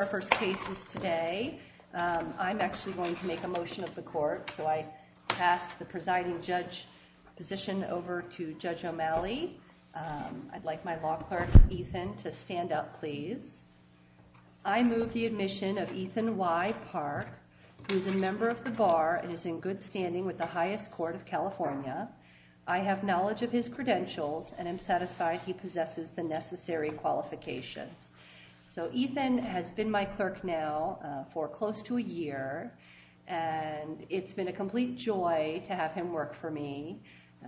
Our first case is today. I'm actually going to make a motion of the court, so I pass the presiding judge position over to Judge O'Malley. I'd like my law clerk, Ethan, to stand up please. I move the admission of Ethan Y. Park, who is a member of the Bar and is in good standing with the highest court of California. I have knowledge of his credentials and am satisfied he possesses the necessary qualifications. So Ethan has been my clerk now for close to a year, and it's been a complete joy to have him work for me.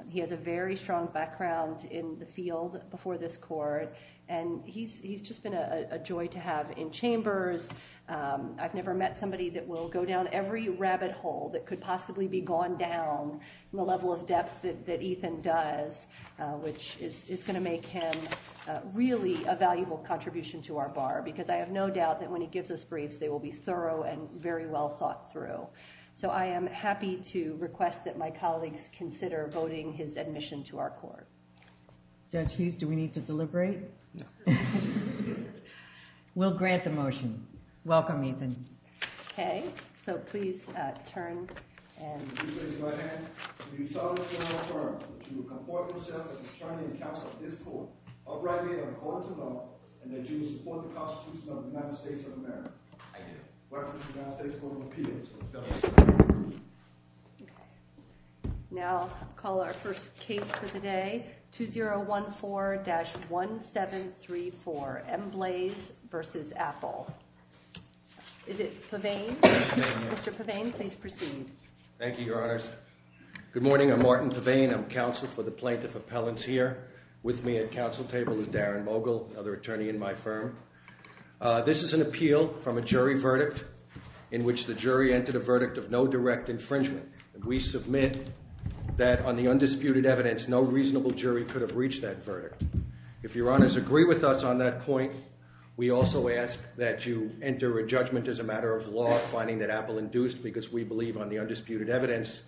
He has a very strong background in the field before this court, and he's just been a joy to have in chambers. I've never met somebody that will go down every rabbit hole that could possibly be gone down the level of depth that Ethan does, which is going to make him really a valuable contribution to our Bar, because I have no doubt that when he gives us briefs, they will be thorough and very well thought through. So I am happy to request that my colleagues consider voting his admission to our court. Judge Hughes, do we need to deliberate? No. We'll grant the motion. Welcome, Ethan. Okay, so please turn. And if you would raise your right hand, can you solemnly affirm that you will comport yourself as a attorney in the counsel of this court, uprightly and according to law, and that you will support the Constitution of the United States of America? I do. Welcome to the United States Court of Appeals. Thank you. Okay. Now I'll call our first case for the day, 2014-1734, M. Blaze v. Apple. Is it Pavane? Mr. Pavane, please proceed. Thank you, Your Honors. Good morning. I'm Martin Pavane. I'm counsel for the plaintiff appellants here. With me at counsel table is Darren Mogul, another attorney in my firm. This is an appeal from a jury verdict in which the jury entered a verdict of no direct infringement. We submit that on the undisputed evidence, no reasonable jury could have reached that verdict. If Your Honors agree with us on that point, we also ask that you enter a judgment as a matter of law finding that Apple induced, because we believe on the undisputed evidence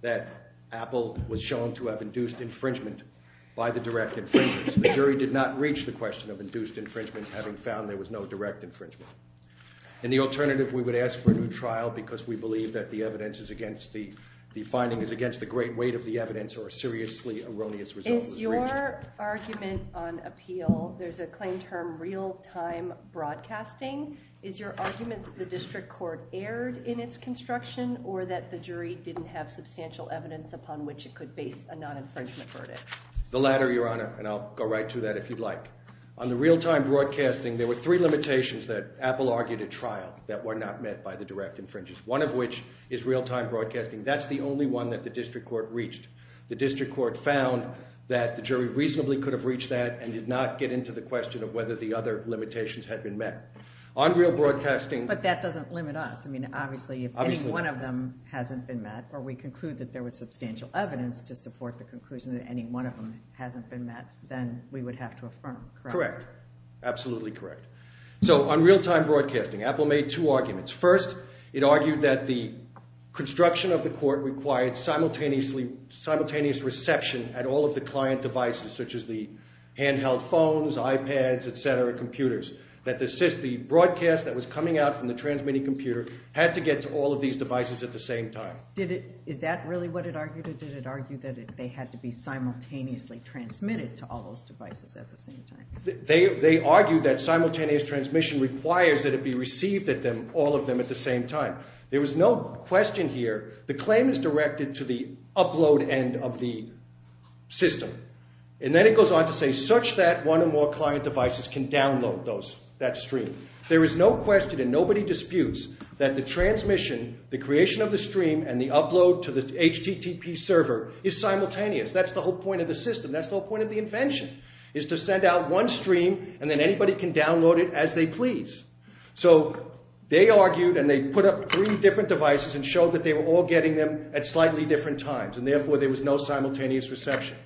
that Apple was shown to have induced infringement by the direct infringers. The jury did not reach the question of induced infringement, having found there was no direct infringement. In the alternative, we would ask for a new trial because we believe that the evidence is against the – the finding is against the great weight of the evidence or a seriously erroneous result was reached. Is your argument on appeal – there's a claim term real-time broadcasting. Is your argument that the district court erred in its construction or that the jury didn't have substantial evidence upon which it could base a non-infringement verdict? The latter, Your Honor, and I'll go right to that if you'd like. On the real-time broadcasting, there were three limitations that Apple argued at trial that were not met by the direct infringers, one of which is real-time broadcasting. That's the only one that the district court reached. The district court found that the jury reasonably could have reached that and did not get into the question of whether the other limitations had been met. On real broadcasting – But that doesn't limit us. I mean, obviously, if any one of them hasn't been met or we conclude that there was substantial evidence to support the conclusion that any one of them hasn't been met, then we would have to affirm, correct? Correct. Absolutely correct. So on real-time broadcasting, Apple made two arguments. First, it argued that the construction of the court required simultaneous reception at all of the client devices, such as the handheld phones, iPads, et cetera, computers, that the broadcast that was coming out from the transmitting computer had to get to all of these devices at the same time. Is that really what it argued, or did it argue that they had to be simultaneously transmitted to all those devices at the same time? They argued that simultaneous transmission requires that it be received at all of them at the same time. There was no question here. The claim is directed to the upload end of the system. And then it goes on to say, such that one or more client devices can download that stream. There is no question and nobody disputes that the transmission, the creation of the stream, and the upload to the HTTP server is simultaneous. That's the whole point of the system. That's the whole point of the invention is to send out one stream and then anybody can download it as they please. So they argued, and they put up three different devices and showed that they were all getting them at slightly different times, and therefore there was no simultaneous reception.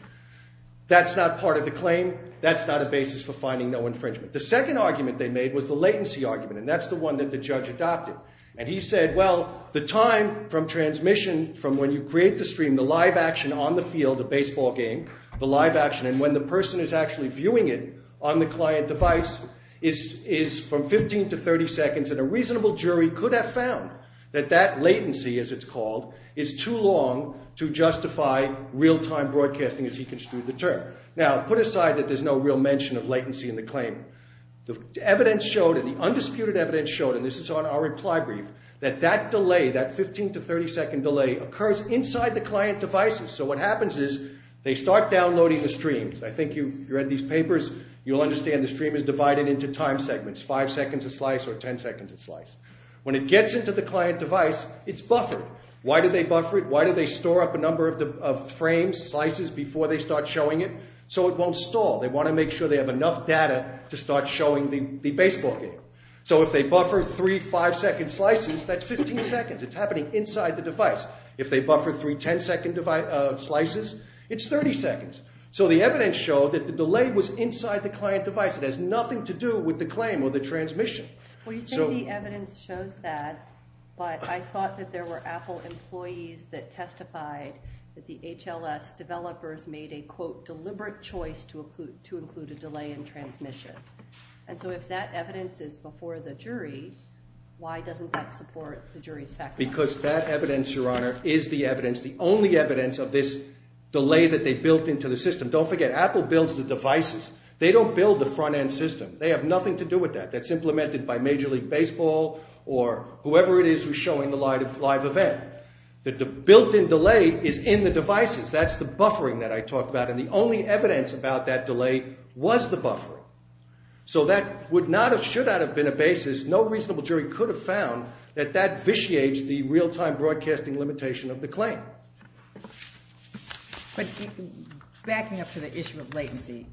That's not part of the claim. That's not a basis for finding no infringement. The second argument they made was the latency argument, and that's the one that the judge adopted. And he said, well, the time from transmission, from when you create the stream, the live action on the field, a baseball game, the live action, and when the person is actually viewing it on the client device is from 15 to 30 seconds, and a reasonable jury could have found that that latency, as it's called, is too long to justify real-time broadcasting, as he construed the term. Now, put aside that there's no real mention of latency in the claim. The evidence showed, and the undisputed evidence showed, and this is on our reply brief, that that delay, that 15 to 30 second delay, occurs inside the client devices. So what happens is they start downloading the streams. I think you've read these papers. You'll understand the stream is divided into time segments, five seconds a slice or ten seconds a slice. When it gets into the client device, it's buffered. Why do they buffer it? Why do they store up a number of frames, slices, before they start showing it? So it won't stall. They want to make sure they have enough data to start showing the baseball game. So if they buffer three five-second slices, that's 15 seconds. It's happening inside the device. If they buffer three ten-second slices, it's 30 seconds. So the evidence showed that the delay was inside the client device. It has nothing to do with the claim or the transmission. Well, you say the evidence shows that, but I thought that there were Apple employees that testified that the HLS developers made a, quote, deliberate choice to include a delay in transmission. And so if that evidence is before the jury, why doesn't that support the jury's factoring? Because that evidence, Your Honor, is the evidence, the only evidence of this delay that they built into the system. Don't forget, Apple builds the devices. They don't build the front-end system. They have nothing to do with that. That's implemented by Major League Baseball or whoever it is who's showing the live event. The built-in delay is in the devices. That's the buffering that I talked about, and the only evidence about that delay was the buffering. So that would not have, should not have been a basis. No reasonable jury could have found that that vitiates the real-time broadcasting limitation of the claim. But backing up to the issue of latency,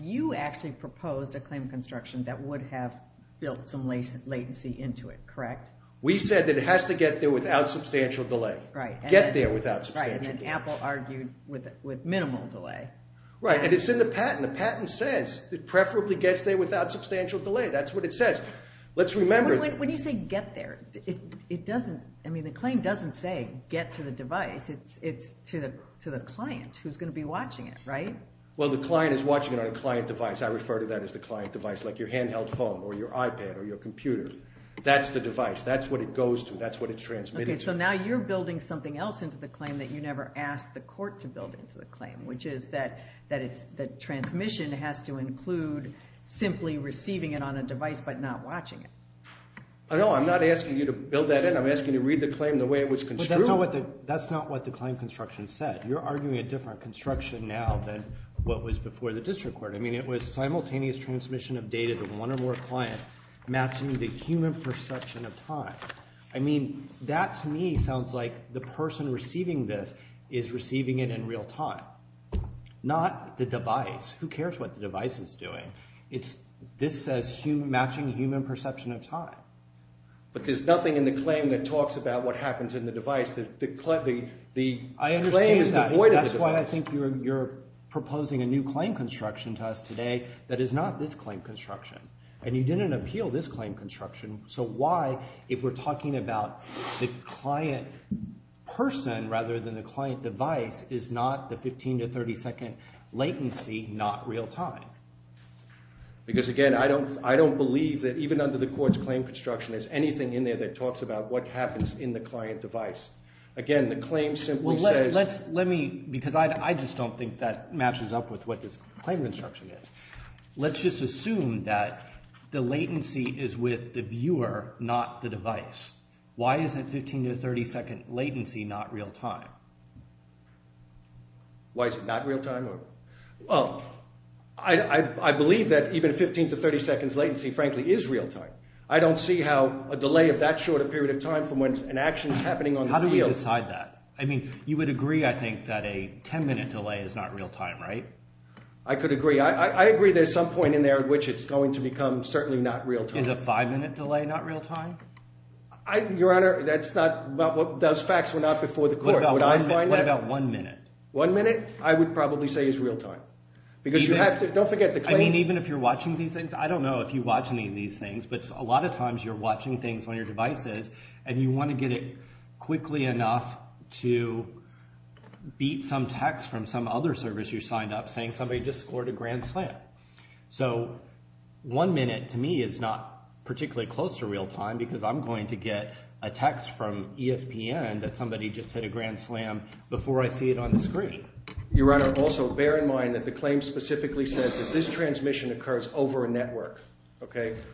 you actually proposed a claim construction that would have built some latency into it, correct? We said that it has to get there without substantial delay. Right. Get there without substantial delay. Right, and then Apple argued with minimal delay. Right, and it's in the patent. The patent says it preferably gets there without substantial delay. That's what it says. Let's remember— When you say get there, it doesn't—I mean, the claim doesn't say get to the device. It's to the client who's going to be watching it, right? Well, the client is watching it on a client device. I refer to that as the client device, like your handheld phone or your iPad or your computer. That's the device. That's what it goes to. That's what it's transmitted to. Okay, so now you're building something else into the claim that you never asked the court to build into the claim, which is that transmission has to include simply receiving it on a device but not watching it. No, I'm not asking you to build that in. I'm asking you to read the claim the way it was construed. That's not what the claim construction said. You're arguing a different construction now than what was before the district court. I mean it was simultaneous transmission of data to one or more clients matching the human perception of time. I mean that to me sounds like the person receiving this is receiving it in real time, not the device. Who cares what the device is doing? This says matching human perception of time. But there's nothing in the claim that talks about what happens in the device. The claim is devoid of the device. I understand that. That's why I think you're proposing a new claim construction to us today that is not this claim construction, and you didn't appeal this claim construction. So why, if we're talking about the client person rather than the client device, is not the 15 to 30 second latency not real time? Because, again, I don't believe that even under the court's claim construction there's anything in there that talks about what happens in the client device. Again, the claim simply says – Well, let me – because I just don't think that matches up with what this claim construction is. Let's just assume that the latency is with the viewer, not the device. Why isn't 15 to 30 second latency not real time? Why is it not real time? Well, I believe that even 15 to 30 seconds latency, frankly, is real time. I don't see how a delay of that short a period of time from when an action is happening on the field – How do we decide that? I mean you would agree, I think, that a 10 minute delay is not real time, right? I could agree. I agree there's some point in there at which it's going to become certainly not real time. Is a five minute delay not real time? Your Honor, that's not – those facts were not before the court. What about one minute? One minute I would probably say is real time because you have to – don't forget the claim – I mean even if you're watching these things, I don't know if you watch any of these things, but a lot of times you're watching things on your devices and you want to get it quickly enough to beat some text from some other service you signed up to. Somebody just scored a grand slam. So one minute to me is not particularly close to real time because I'm going to get a text from ESPN that somebody just hit a grand slam before I see it on the screen. Your Honor, also bear in mind that the claim specifically says that this transmission occurs over a network.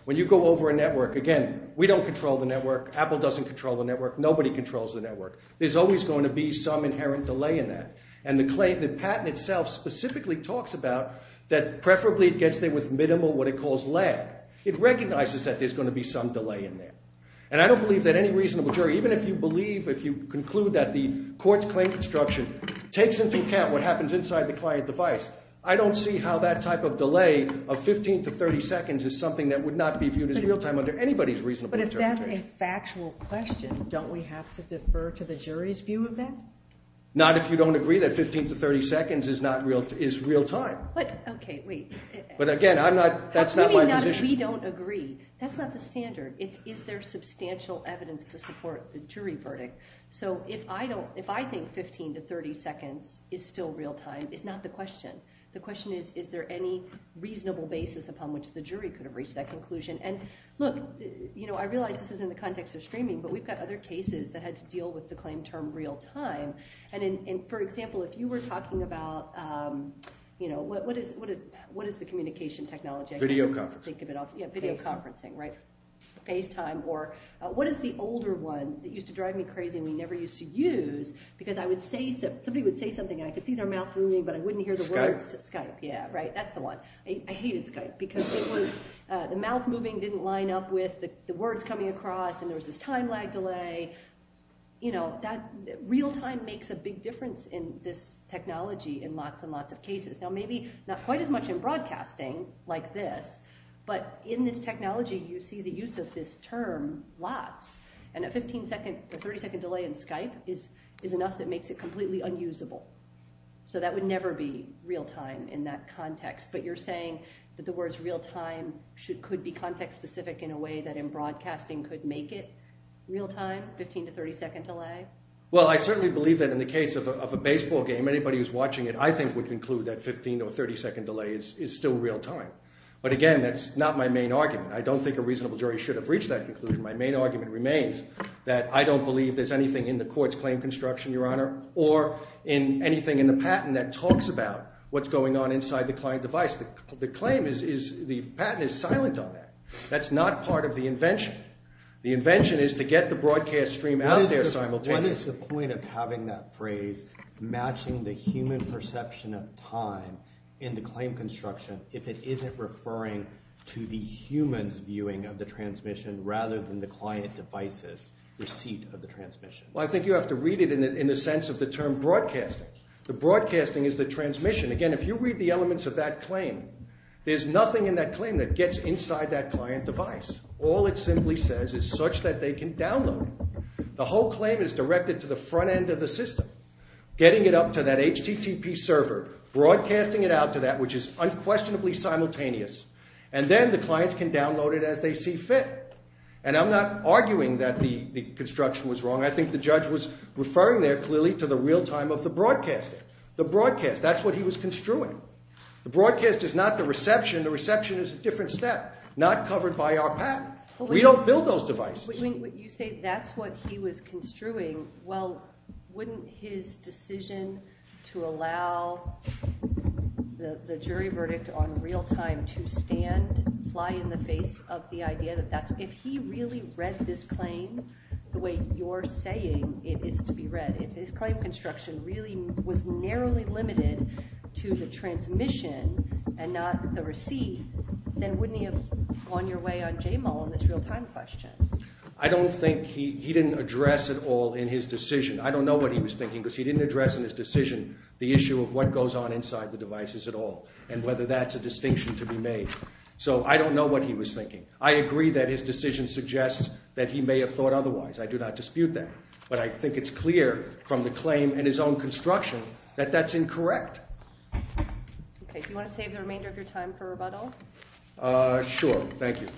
When you go over a network, again, we don't control the network. Apple doesn't control the network. Nobody controls the network. There's always going to be some inherent delay in that. And the claim – the patent itself specifically talks about that preferably it gets there with minimal what it calls lag. It recognizes that there's going to be some delay in there. And I don't believe that any reasonable jury – even if you believe, if you conclude that the court's claim construction takes into account what happens inside the client device, I don't see how that type of delay of 15 to 30 seconds is something that would not be viewed as real time under anybody's reasonable interpretation. But if that's a factual question, don't we have to defer to the jury's view of that? Not if you don't agree that 15 to 30 seconds is not real – is real time. But – okay, wait. But again, I'm not – that's not my position. Maybe not if we don't agree. That's not the standard. It's is there substantial evidence to support the jury verdict. So if I don't – if I think 15 to 30 seconds is still real time, it's not the question. The question is, is there any reasonable basis upon which the jury could have reached that conclusion? And, look, I realize this is in the context of streaming, but we've got other cases that had to deal with the claim term real time. And for example, if you were talking about – what is the communication technology? Video conferencing. Yeah, video conferencing, right? FaceTime or – what is the older one that used to drive me crazy and we never used to use? Because I would say – somebody would say something, and I could see their mouth moving, but I wouldn't hear the words. Skype. Skype, yeah, right. That's the one. I hated Skype because it was – the mouth moving didn't line up with the words coming across, and there was this time lag delay. You know, that – real time makes a big difference in this technology in lots and lots of cases. Now, maybe not quite as much in broadcasting like this, but in this technology, you see the use of this term lots. And a 15-second or 30-second delay in Skype is enough that makes it completely unusable. So that would never be real time in that context. But you're saying that the words real time could be context-specific in a way that in broadcasting could make it real time, 15- to 30-second delay? Well, I certainly believe that in the case of a baseball game, anybody who's watching it, I think, would conclude that 15- or 30-second delay is still real time. But again, that's not my main argument. I don't think a reasonable jury should have reached that conclusion. My main argument remains that I don't believe there's anything in the court's claim construction, Your Honor, or in anything in the patent that talks about what's going on inside the client device. The claim is – the patent is silent on that. That's not part of the invention. The invention is to get the broadcast stream out there simultaneously. What is the point of having that phrase matching the human perception of time in the claim construction if it isn't referring to the human's viewing of the transmission rather than the client device's receipt of the transmission? Well, I think you have to read it in the sense of the term broadcasting. The broadcasting is the transmission. Again, if you read the elements of that claim, there's nothing in that claim that gets inside that client device. All it simply says is such that they can download it. The whole claim is directed to the front end of the system, getting it up to that HTTP server, broadcasting it out to that which is unquestionably simultaneous, and then the clients can download it as they see fit. And I'm not arguing that the construction was wrong. I think the judge was referring there clearly to the real time of the broadcasting, the broadcast. That's what he was construing. The broadcast is not the reception. The reception is a different step, not covered by our patent. We don't build those devices. You say that's what he was construing. Well, wouldn't his decision to allow the jury verdict on real time to stand, fly in the face of the idea that that's – if he really read this claim the way you're saying it is to be read, if his claim construction really was narrowly limited to the transmission and not the receipt, then wouldn't he have gone your way on JML on this real time question? I don't think he – he didn't address it all in his decision. I don't know what he was thinking because he didn't address in his decision the issue of what goes on inside the devices at all and whether that's a distinction to be made. So I don't know what he was thinking. I agree that his decision suggests that he may have thought otherwise. I do not dispute that. But I think it's clear from the claim and his own construction that that's incorrect. Okay. Do you want to save the remainder of your time for rebuttal? Sure. Thank you.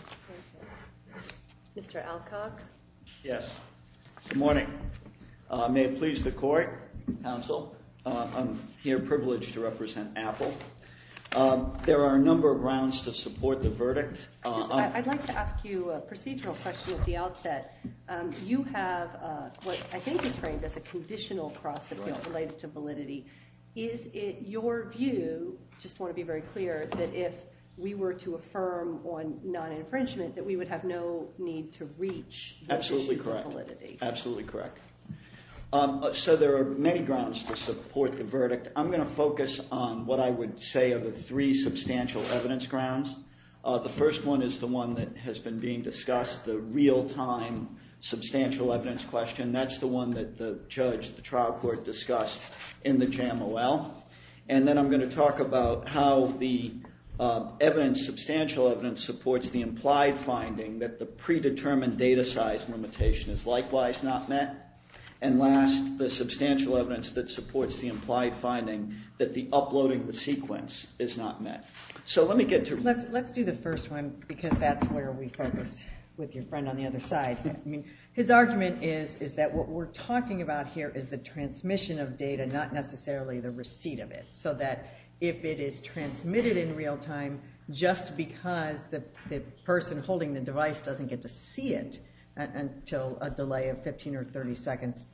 Mr. Alcock. Yes. Good morning. May it please the court, counsel, I'm here privileged to represent Apple. There are a number of grounds to support the verdict. I'd like to ask you a procedural question at the outset. You have what I think is framed as a conditional cross-appeal related to validity. Is it your view – just want to be very clear – that if we were to affirm on non-infringement that we would have no need to reach the issues of validity? Absolutely correct. Absolutely correct. So there are many grounds to support the verdict. I'm going to focus on what I would say are the three substantial evidence grounds. The first one is the one that has been being discussed, the real-time substantial evidence question. That's the one that the judge, the trial court, discussed in the JAMOL. And then I'm going to talk about how the evidence, substantial evidence, supports the implied finding that the predetermined data size limitation is likewise not met. And last, the substantial evidence that supports the implied finding that the uploading of the sequence is not met. Let's do the first one because that's where we focused with your friend on the other side. His argument is that what we're talking about here is the transmission of data, not necessarily the receipt of it, so that if it is transmitted in real time, just because the person holding the device doesn't get to see it until a delay of 15 or 30 seconds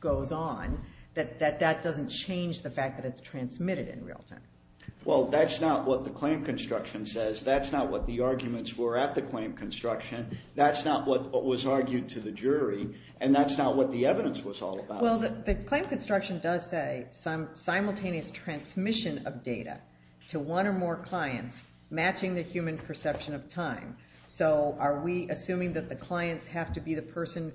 goes on, that that doesn't change the fact that it's transmitted in real time. Well, that's not what the claim construction says. That's not what the arguments were at the claim construction. That's not what was argued to the jury, and that's not what the evidence was all about. Well, the claim construction does say simultaneous transmission of data to one or more clients matching the human perception of time. So are we assuming that the clients have to be the person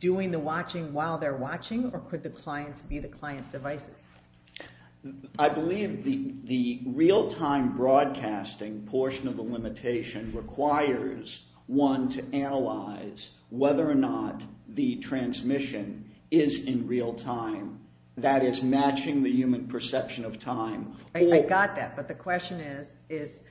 doing the watching while they're watching, or could the clients be the client devices? I believe the real-time broadcasting portion of the limitation requires one to analyze whether or not the transmission is in real time, that is, matching the human perception of time. I got that, but the question is,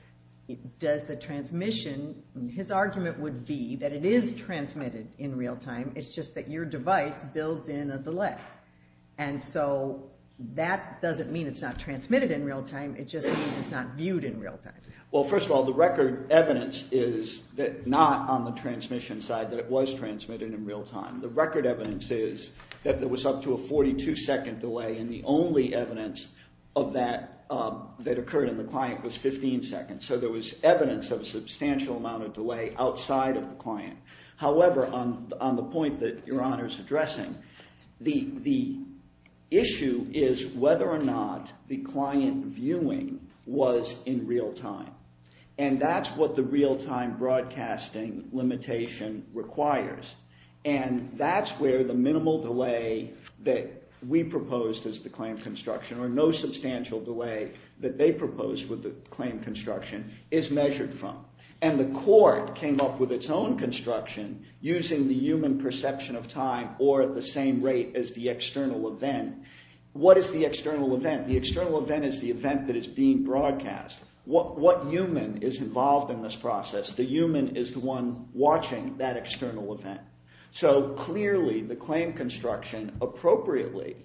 does the transmission – his argument would be that it is transmitted in real time, it's just that your device builds in a delay. And so that doesn't mean it's not transmitted in real time, it just means it's not viewed in real time. Well, first of all, the record evidence is that not on the transmission side that it was transmitted in real time. The record evidence is that there was up to a 42-second delay, and the only evidence of that that occurred in the client was 15 seconds. So there was evidence of a substantial amount of delay outside of the client. However, on the point that Your Honor is addressing, the issue is whether or not the client viewing was in real time, and that's what the real-time broadcasting limitation requires. And that's where the minimal delay that we proposed as the claim construction, or no substantial delay that they proposed with the claim construction, is measured from. And the court came up with its own construction using the human perception of time or at the same rate as the external event. What is the external event? The external event is the event that is being broadcast. What human is involved in this process? The human is the one watching that external event. So clearly the claim construction appropriately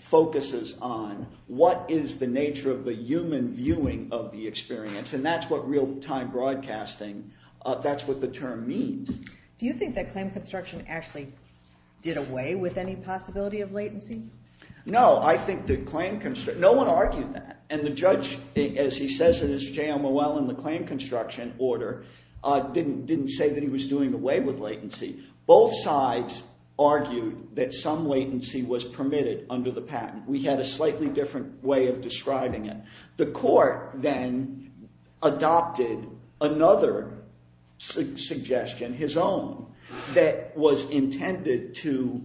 focuses on what is the nature of the human viewing of the experience, and that's what real-time broadcasting, that's what the term means. Do you think that claim construction actually did away with any possibility of latency? No, I think that claim construction – no one argued that. And the judge, as he says in his JMOL in the claim construction order, didn't say that he was doing away with latency. Both sides argued that some latency was permitted under the patent. We had a slightly different way of describing it. The court then adopted another suggestion, his own, that was intended to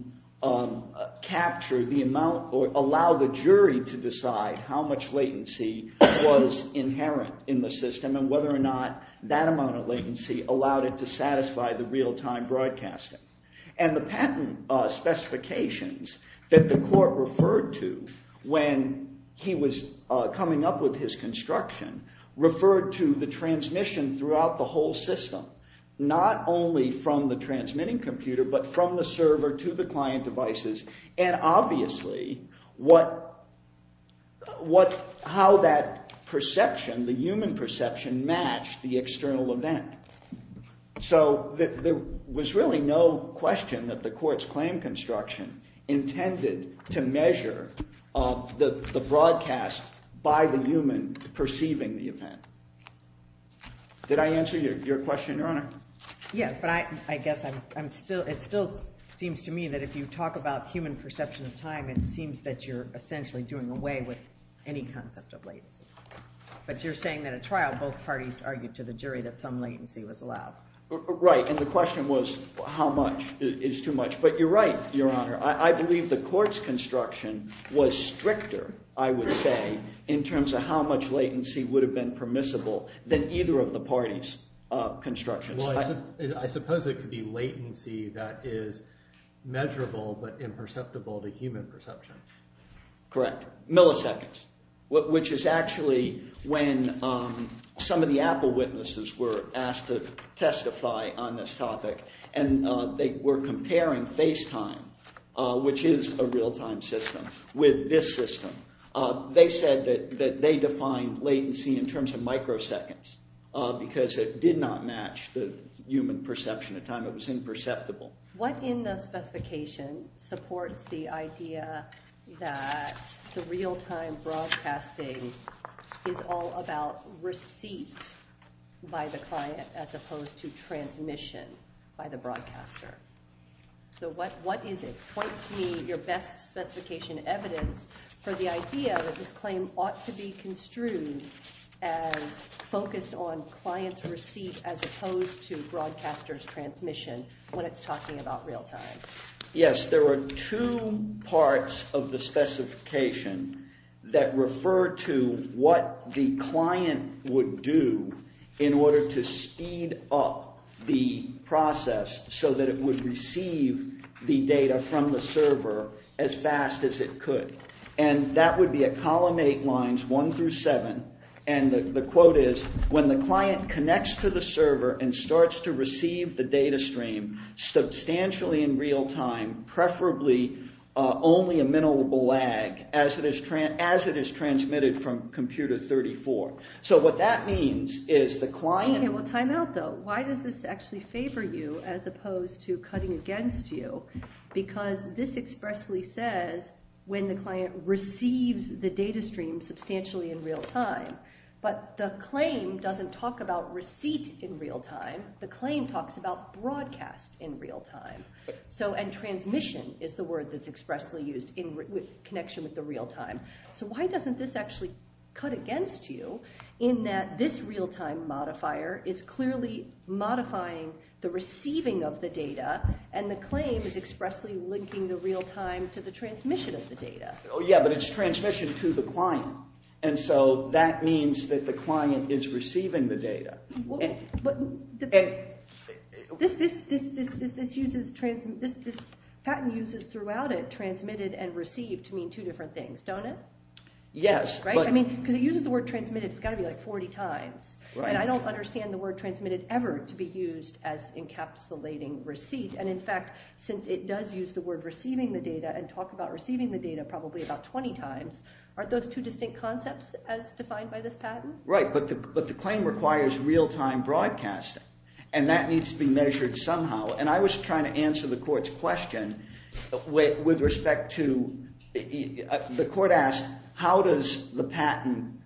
capture the amount or allow the jury to decide how much latency was inherent in the system and whether or not that amount of latency allowed it to satisfy the real-time broadcasting. And the patent specifications that the court referred to when he was coming up with his construction referred to the transmission throughout the whole system, not only from the transmitting computer but from the server to the client devices, and obviously how that perception, the human perception, matched the external event. So there was really no question that the court's claim construction intended to measure the broadcast by the human perceiving the event. Did I answer your question, Your Honor? Yeah, but I guess I'm still – it still seems to me that if you talk about human perception of time, it seems that you're essentially doing away with any concept of latency. But you're saying that at trial, both parties argued to the jury that some latency was allowed. Right, and the question was how much is too much. But you're right, Your Honor. I believe the court's construction was stricter, I would say, in terms of how much latency would have been permissible than either of the parties' constructions. Well, I suppose it could be latency that is measurable but imperceptible to human perception. Correct. Milliseconds, which is actually when some of the Apple witnesses were asked to testify on this topic, and they were comparing FaceTime, which is a real-time system, with this system. They said that they defined latency in terms of microseconds because it did not match the human perception of time. It was imperceptible. What in the specification supports the idea that the real-time broadcasting is all about receipt by the client as opposed to transmission by the broadcaster? So what is it? Point to me your best specification evidence for the idea that this claim ought to be construed as focused on client's receipt as opposed to broadcaster's transmission when it's talking about real-time. Yes, there are two parts of the specification that refer to what the client would do in order to speed up the process so that it would receive the data from the server as fast as it could. That would be at column 8 lines 1 through 7. The quote is, when the client connects to the server and starts to receive the data stream substantially in real-time, preferably only a minimal lag, as it is transmitted from computer 34. So what that means is the client... Time out, though. Why does this actually favor you as opposed to cutting against you? Because this expressly says when the client receives the data stream substantially in real-time. But the claim doesn't talk about receipt in real-time. The claim talks about broadcast in real-time. And transmission is the word that's expressly used in connection with the real-time. So why doesn't this actually cut against you in that this real-time modifier is clearly modifying the receiving of the data and the claim is expressly linking the real-time to the transmission of the data? Yeah, but it's transmission to the client. And so that means that the client is receiving the data. But this patent uses throughout it transmitted and received to mean two different things, don't it? Yes. Because it uses the word transmitted. It's got to be like 40 times. And I don't understand the word transmitted ever to be used as encapsulating receipt. And in fact, since it does use the word receiving the data and talk about receiving the data probably about 20 times, aren't those two distinct concepts as defined by this patent? Right. But the claim requires real-time broadcasting. And that needs to be measured somehow. And I was trying to answer the court's question with respect to – the court asked how does the patent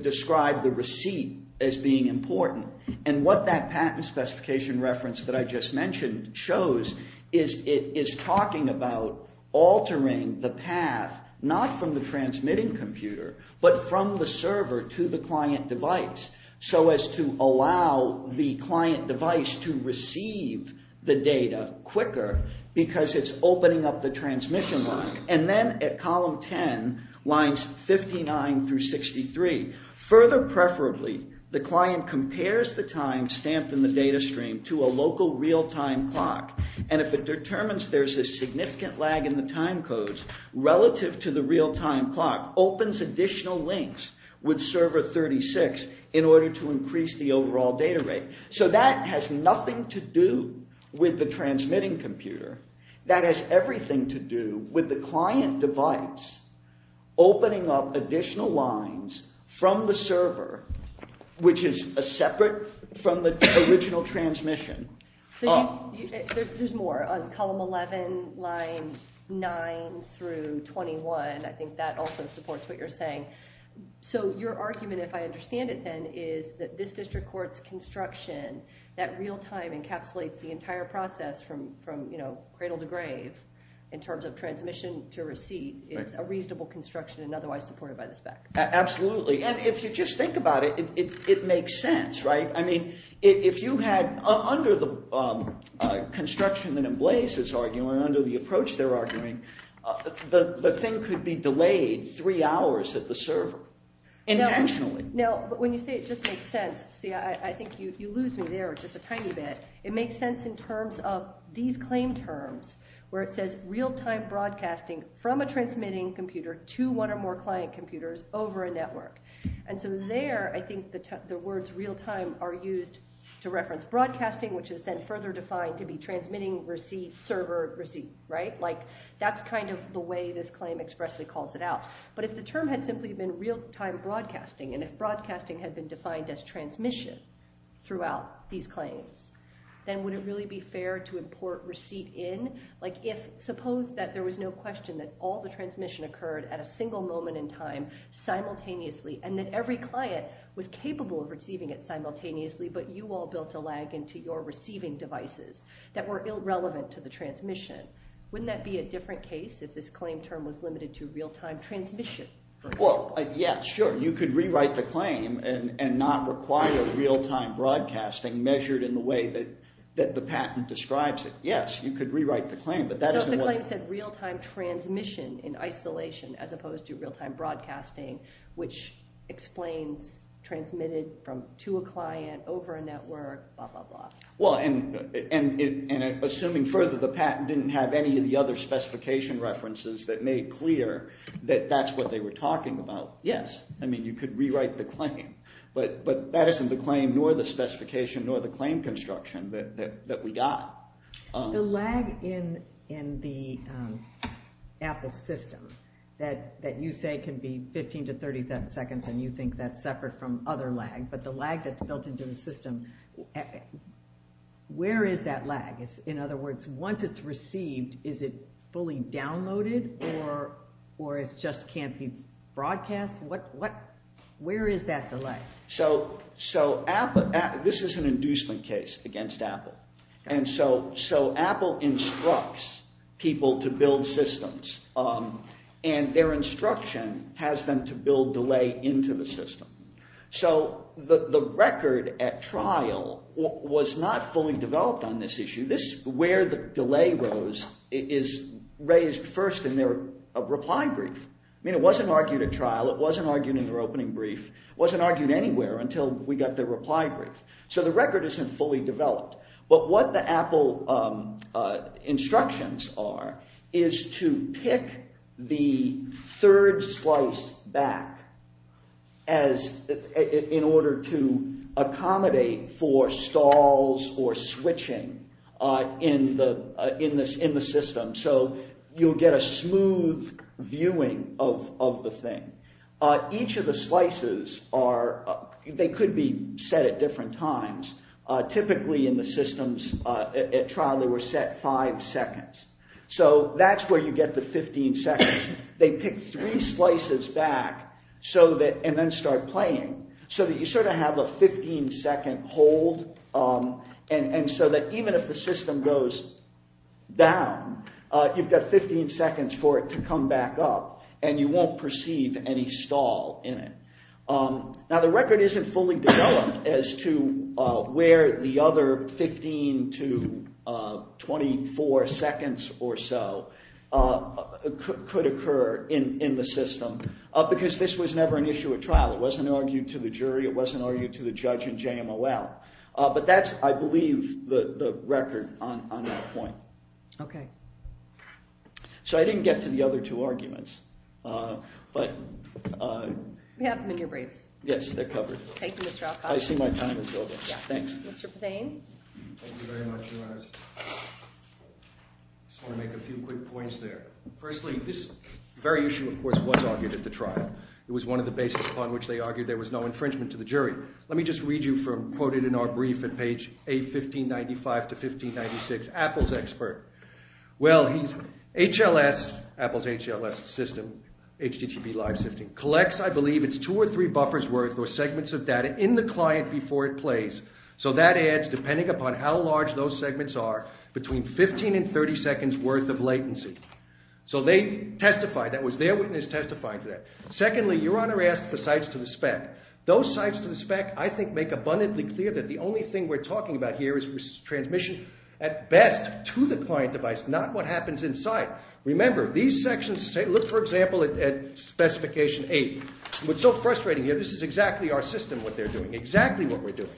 describe the receipt as being important? And what that patent specification reference that I just mentioned shows is it is talking about altering the path not from the transmitting computer but from the server to the client device so as to allow the client device to receive the data quicker because it's opening up the transmission line. And then at column 10, lines 59 through 63, further preferably, the client compares the time stamped in the data stream to a local real-time clock. And if it determines there's a significant lag in the time codes relative to the real-time clock, opens additional links with server 36 in order to increase the overall data rate. So that has nothing to do with the transmitting computer. That has everything to do with the client device opening up additional lines from the server, which is separate from the original transmission. So there's more. On column 11, line 9 through 21, I think that also supports what you're saying. So your argument, if I understand it then, is that this district court's construction that real-time encapsulates the entire process from cradle to grave in terms of transmission to receipt is a reasonable construction and otherwise supported by the spec. Absolutely. And if you just think about it, it makes sense, right? I mean, if you had, under the construction that Emblaze is arguing, under the approach they're arguing, the thing could be delayed three hours at the server intentionally. Now, when you say it just makes sense, see, I think you lose me there just a tiny bit. It makes sense in terms of these claim terms, where it says real-time broadcasting from a transmitting computer to one or more client computers over a network. And so there, I think the words real-time are used to reference broadcasting, which is then further defined to be transmitting server receipt, right? Like, that's kind of the way this claim expressly calls it out. But if the term had simply been real-time broadcasting, and if broadcasting had been defined as transmission throughout these claims, then would it really be fair to import receipt in? Like, suppose that there was no question that all the transmission occurred at a single moment in time, simultaneously, and that every client was capable of receiving it simultaneously, but you all built a lag into your receiving devices that were irrelevant to the transmission. Wouldn't that be a different case if this claim term was limited to real-time transmission? Well, yeah, sure. You could rewrite the claim and not require real-time broadcasting measured in the way that the patent describes it. Yes, you could rewrite the claim, but that isn't what – So if the claim said real-time transmission in isolation as opposed to real-time broadcasting, which explains transmitted from – to a client, over a network, blah, blah, blah. Well, and assuming further the patent didn't have any of the other specification references that made clear that that's what they were talking about, yes. I mean, you could rewrite the claim, but that isn't the claim nor the specification nor the claim construction that we got. The lag in the Apple system that you say can be 15 to 30 seconds and you think that's separate from other lag, but the lag that's built into the system, where is that lag? In other words, once it's received, is it fully downloaded or it just can't be broadcast? What – where is that delay? So Apple – this is an inducement case against Apple, and so Apple instructs people to build systems, and their instruction has them to build delay into the system. So the record at trial was not fully developed on this issue. This – where the delay rose is raised first in their reply brief. I mean it wasn't argued at trial. It wasn't argued in their opening brief. It wasn't argued anywhere until we got their reply brief. So the record isn't fully developed, but what the Apple instructions are is to pick the third slice back as – in order to accommodate for stalls or switching in the system. So you'll get a smooth viewing of the thing. Each of the slices are – they could be set at different times. Typically in the systems at trial they were set five seconds. So that's where you get the 15 seconds. They pick three slices back so that – and then start playing so that you sort of have a 15-second hold and so that even if the system goes down, you've got 15 seconds for it to come back up, and you won't perceive any stall in it. Now the record isn't fully developed as to where the other 15 to 24 seconds or so could occur in the system because this was never an issue at trial. It wasn't argued to the jury. It wasn't argued to the judge in JMOL. But that's, I believe, the record on that point. Okay. So I didn't get to the other two arguments, but – We have them in your briefs. Yes, they're covered. Thank you, Mr. Alcott. I see my time is over. Thanks. Mr. Pothain. Thank you very much, Your Honors. I just want to make a few quick points there. Firstly, this very issue, of course, was argued at the trial. It was one of the bases upon which they argued there was no infringement to the jury. Let me just read you from – quote it in our brief at page A1595 to 1596, Apple's expert. Well, he's – HLS, Apple's HLS system, HDTV live system, collects, I believe, it's two or three buffers worth or segments of data in the client before it plays. So that adds, depending upon how large those segments are, between 15 and 30 seconds worth of latency. So they testified. That was their witness testifying to that. Secondly, Your Honor asked for sides to the spec. Those sides to the spec, I think, make abundantly clear that the only thing we're talking about here is transmission at best to the client device, not what happens inside. Remember, these sections – look, for example, at Specification 8. What's so frustrating here, this is exactly our system, what they're doing, exactly what we're doing.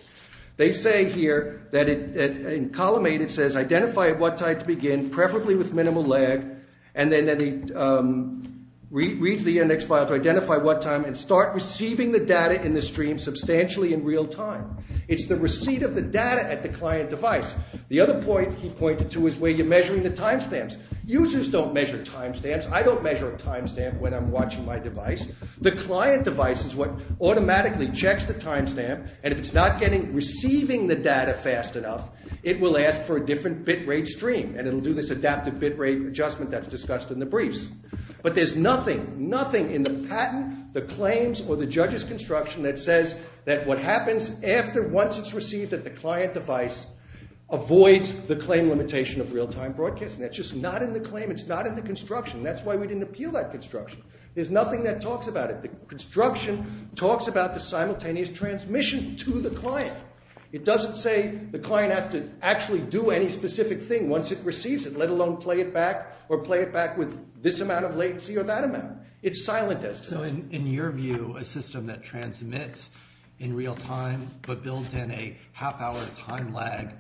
They say here that in column 8 it says identify at what time to begin, preferably with minimal lag, and then reads the index file to identify what time and start receiving the data in the stream substantially in real time. It's the receipt of the data at the client device. The other point he pointed to is where you're measuring the timestamps. Users don't measure timestamps. I don't measure a timestamp when I'm watching my device. The client device is what automatically checks the timestamp, and if it's not receiving the data fast enough, it will ask for a different bit rate stream, and it will do this adaptive bit rate adjustment that's discussed in the briefs. But there's nothing, nothing in the patent, the claims, or the judge's construction that says that what happens after once it's received at the client device avoids the claim limitation of real time broadcasting. That's just not in the claim. It's not in the construction. That's why we didn't appeal that construction. There's nothing that talks about it. The construction talks about the simultaneous transmission to the client. It doesn't say the client has to actually do any specific thing once it receives it, let alone play it back or play it back with this amount of latency or that amount. It's silent. So in your view, a system that transmits in real time but builds in a half hour time lag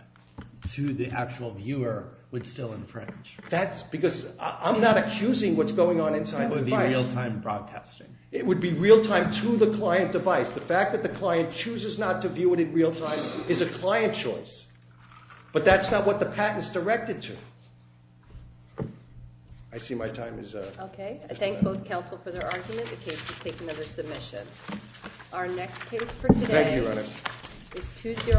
to the actual viewer would still infringe? That's because I'm not accusing what's going on inside the device. It would be real time broadcasting. It would be real time to the client device. The fact that the client chooses not to view it in real time is a client choice, but that's not what the patent's directed to. I see my time is up. Okay. I thank both counsel for their argument. The case is taken under submission. Our next case for today. Thank you, Your Honor. It's 2-0.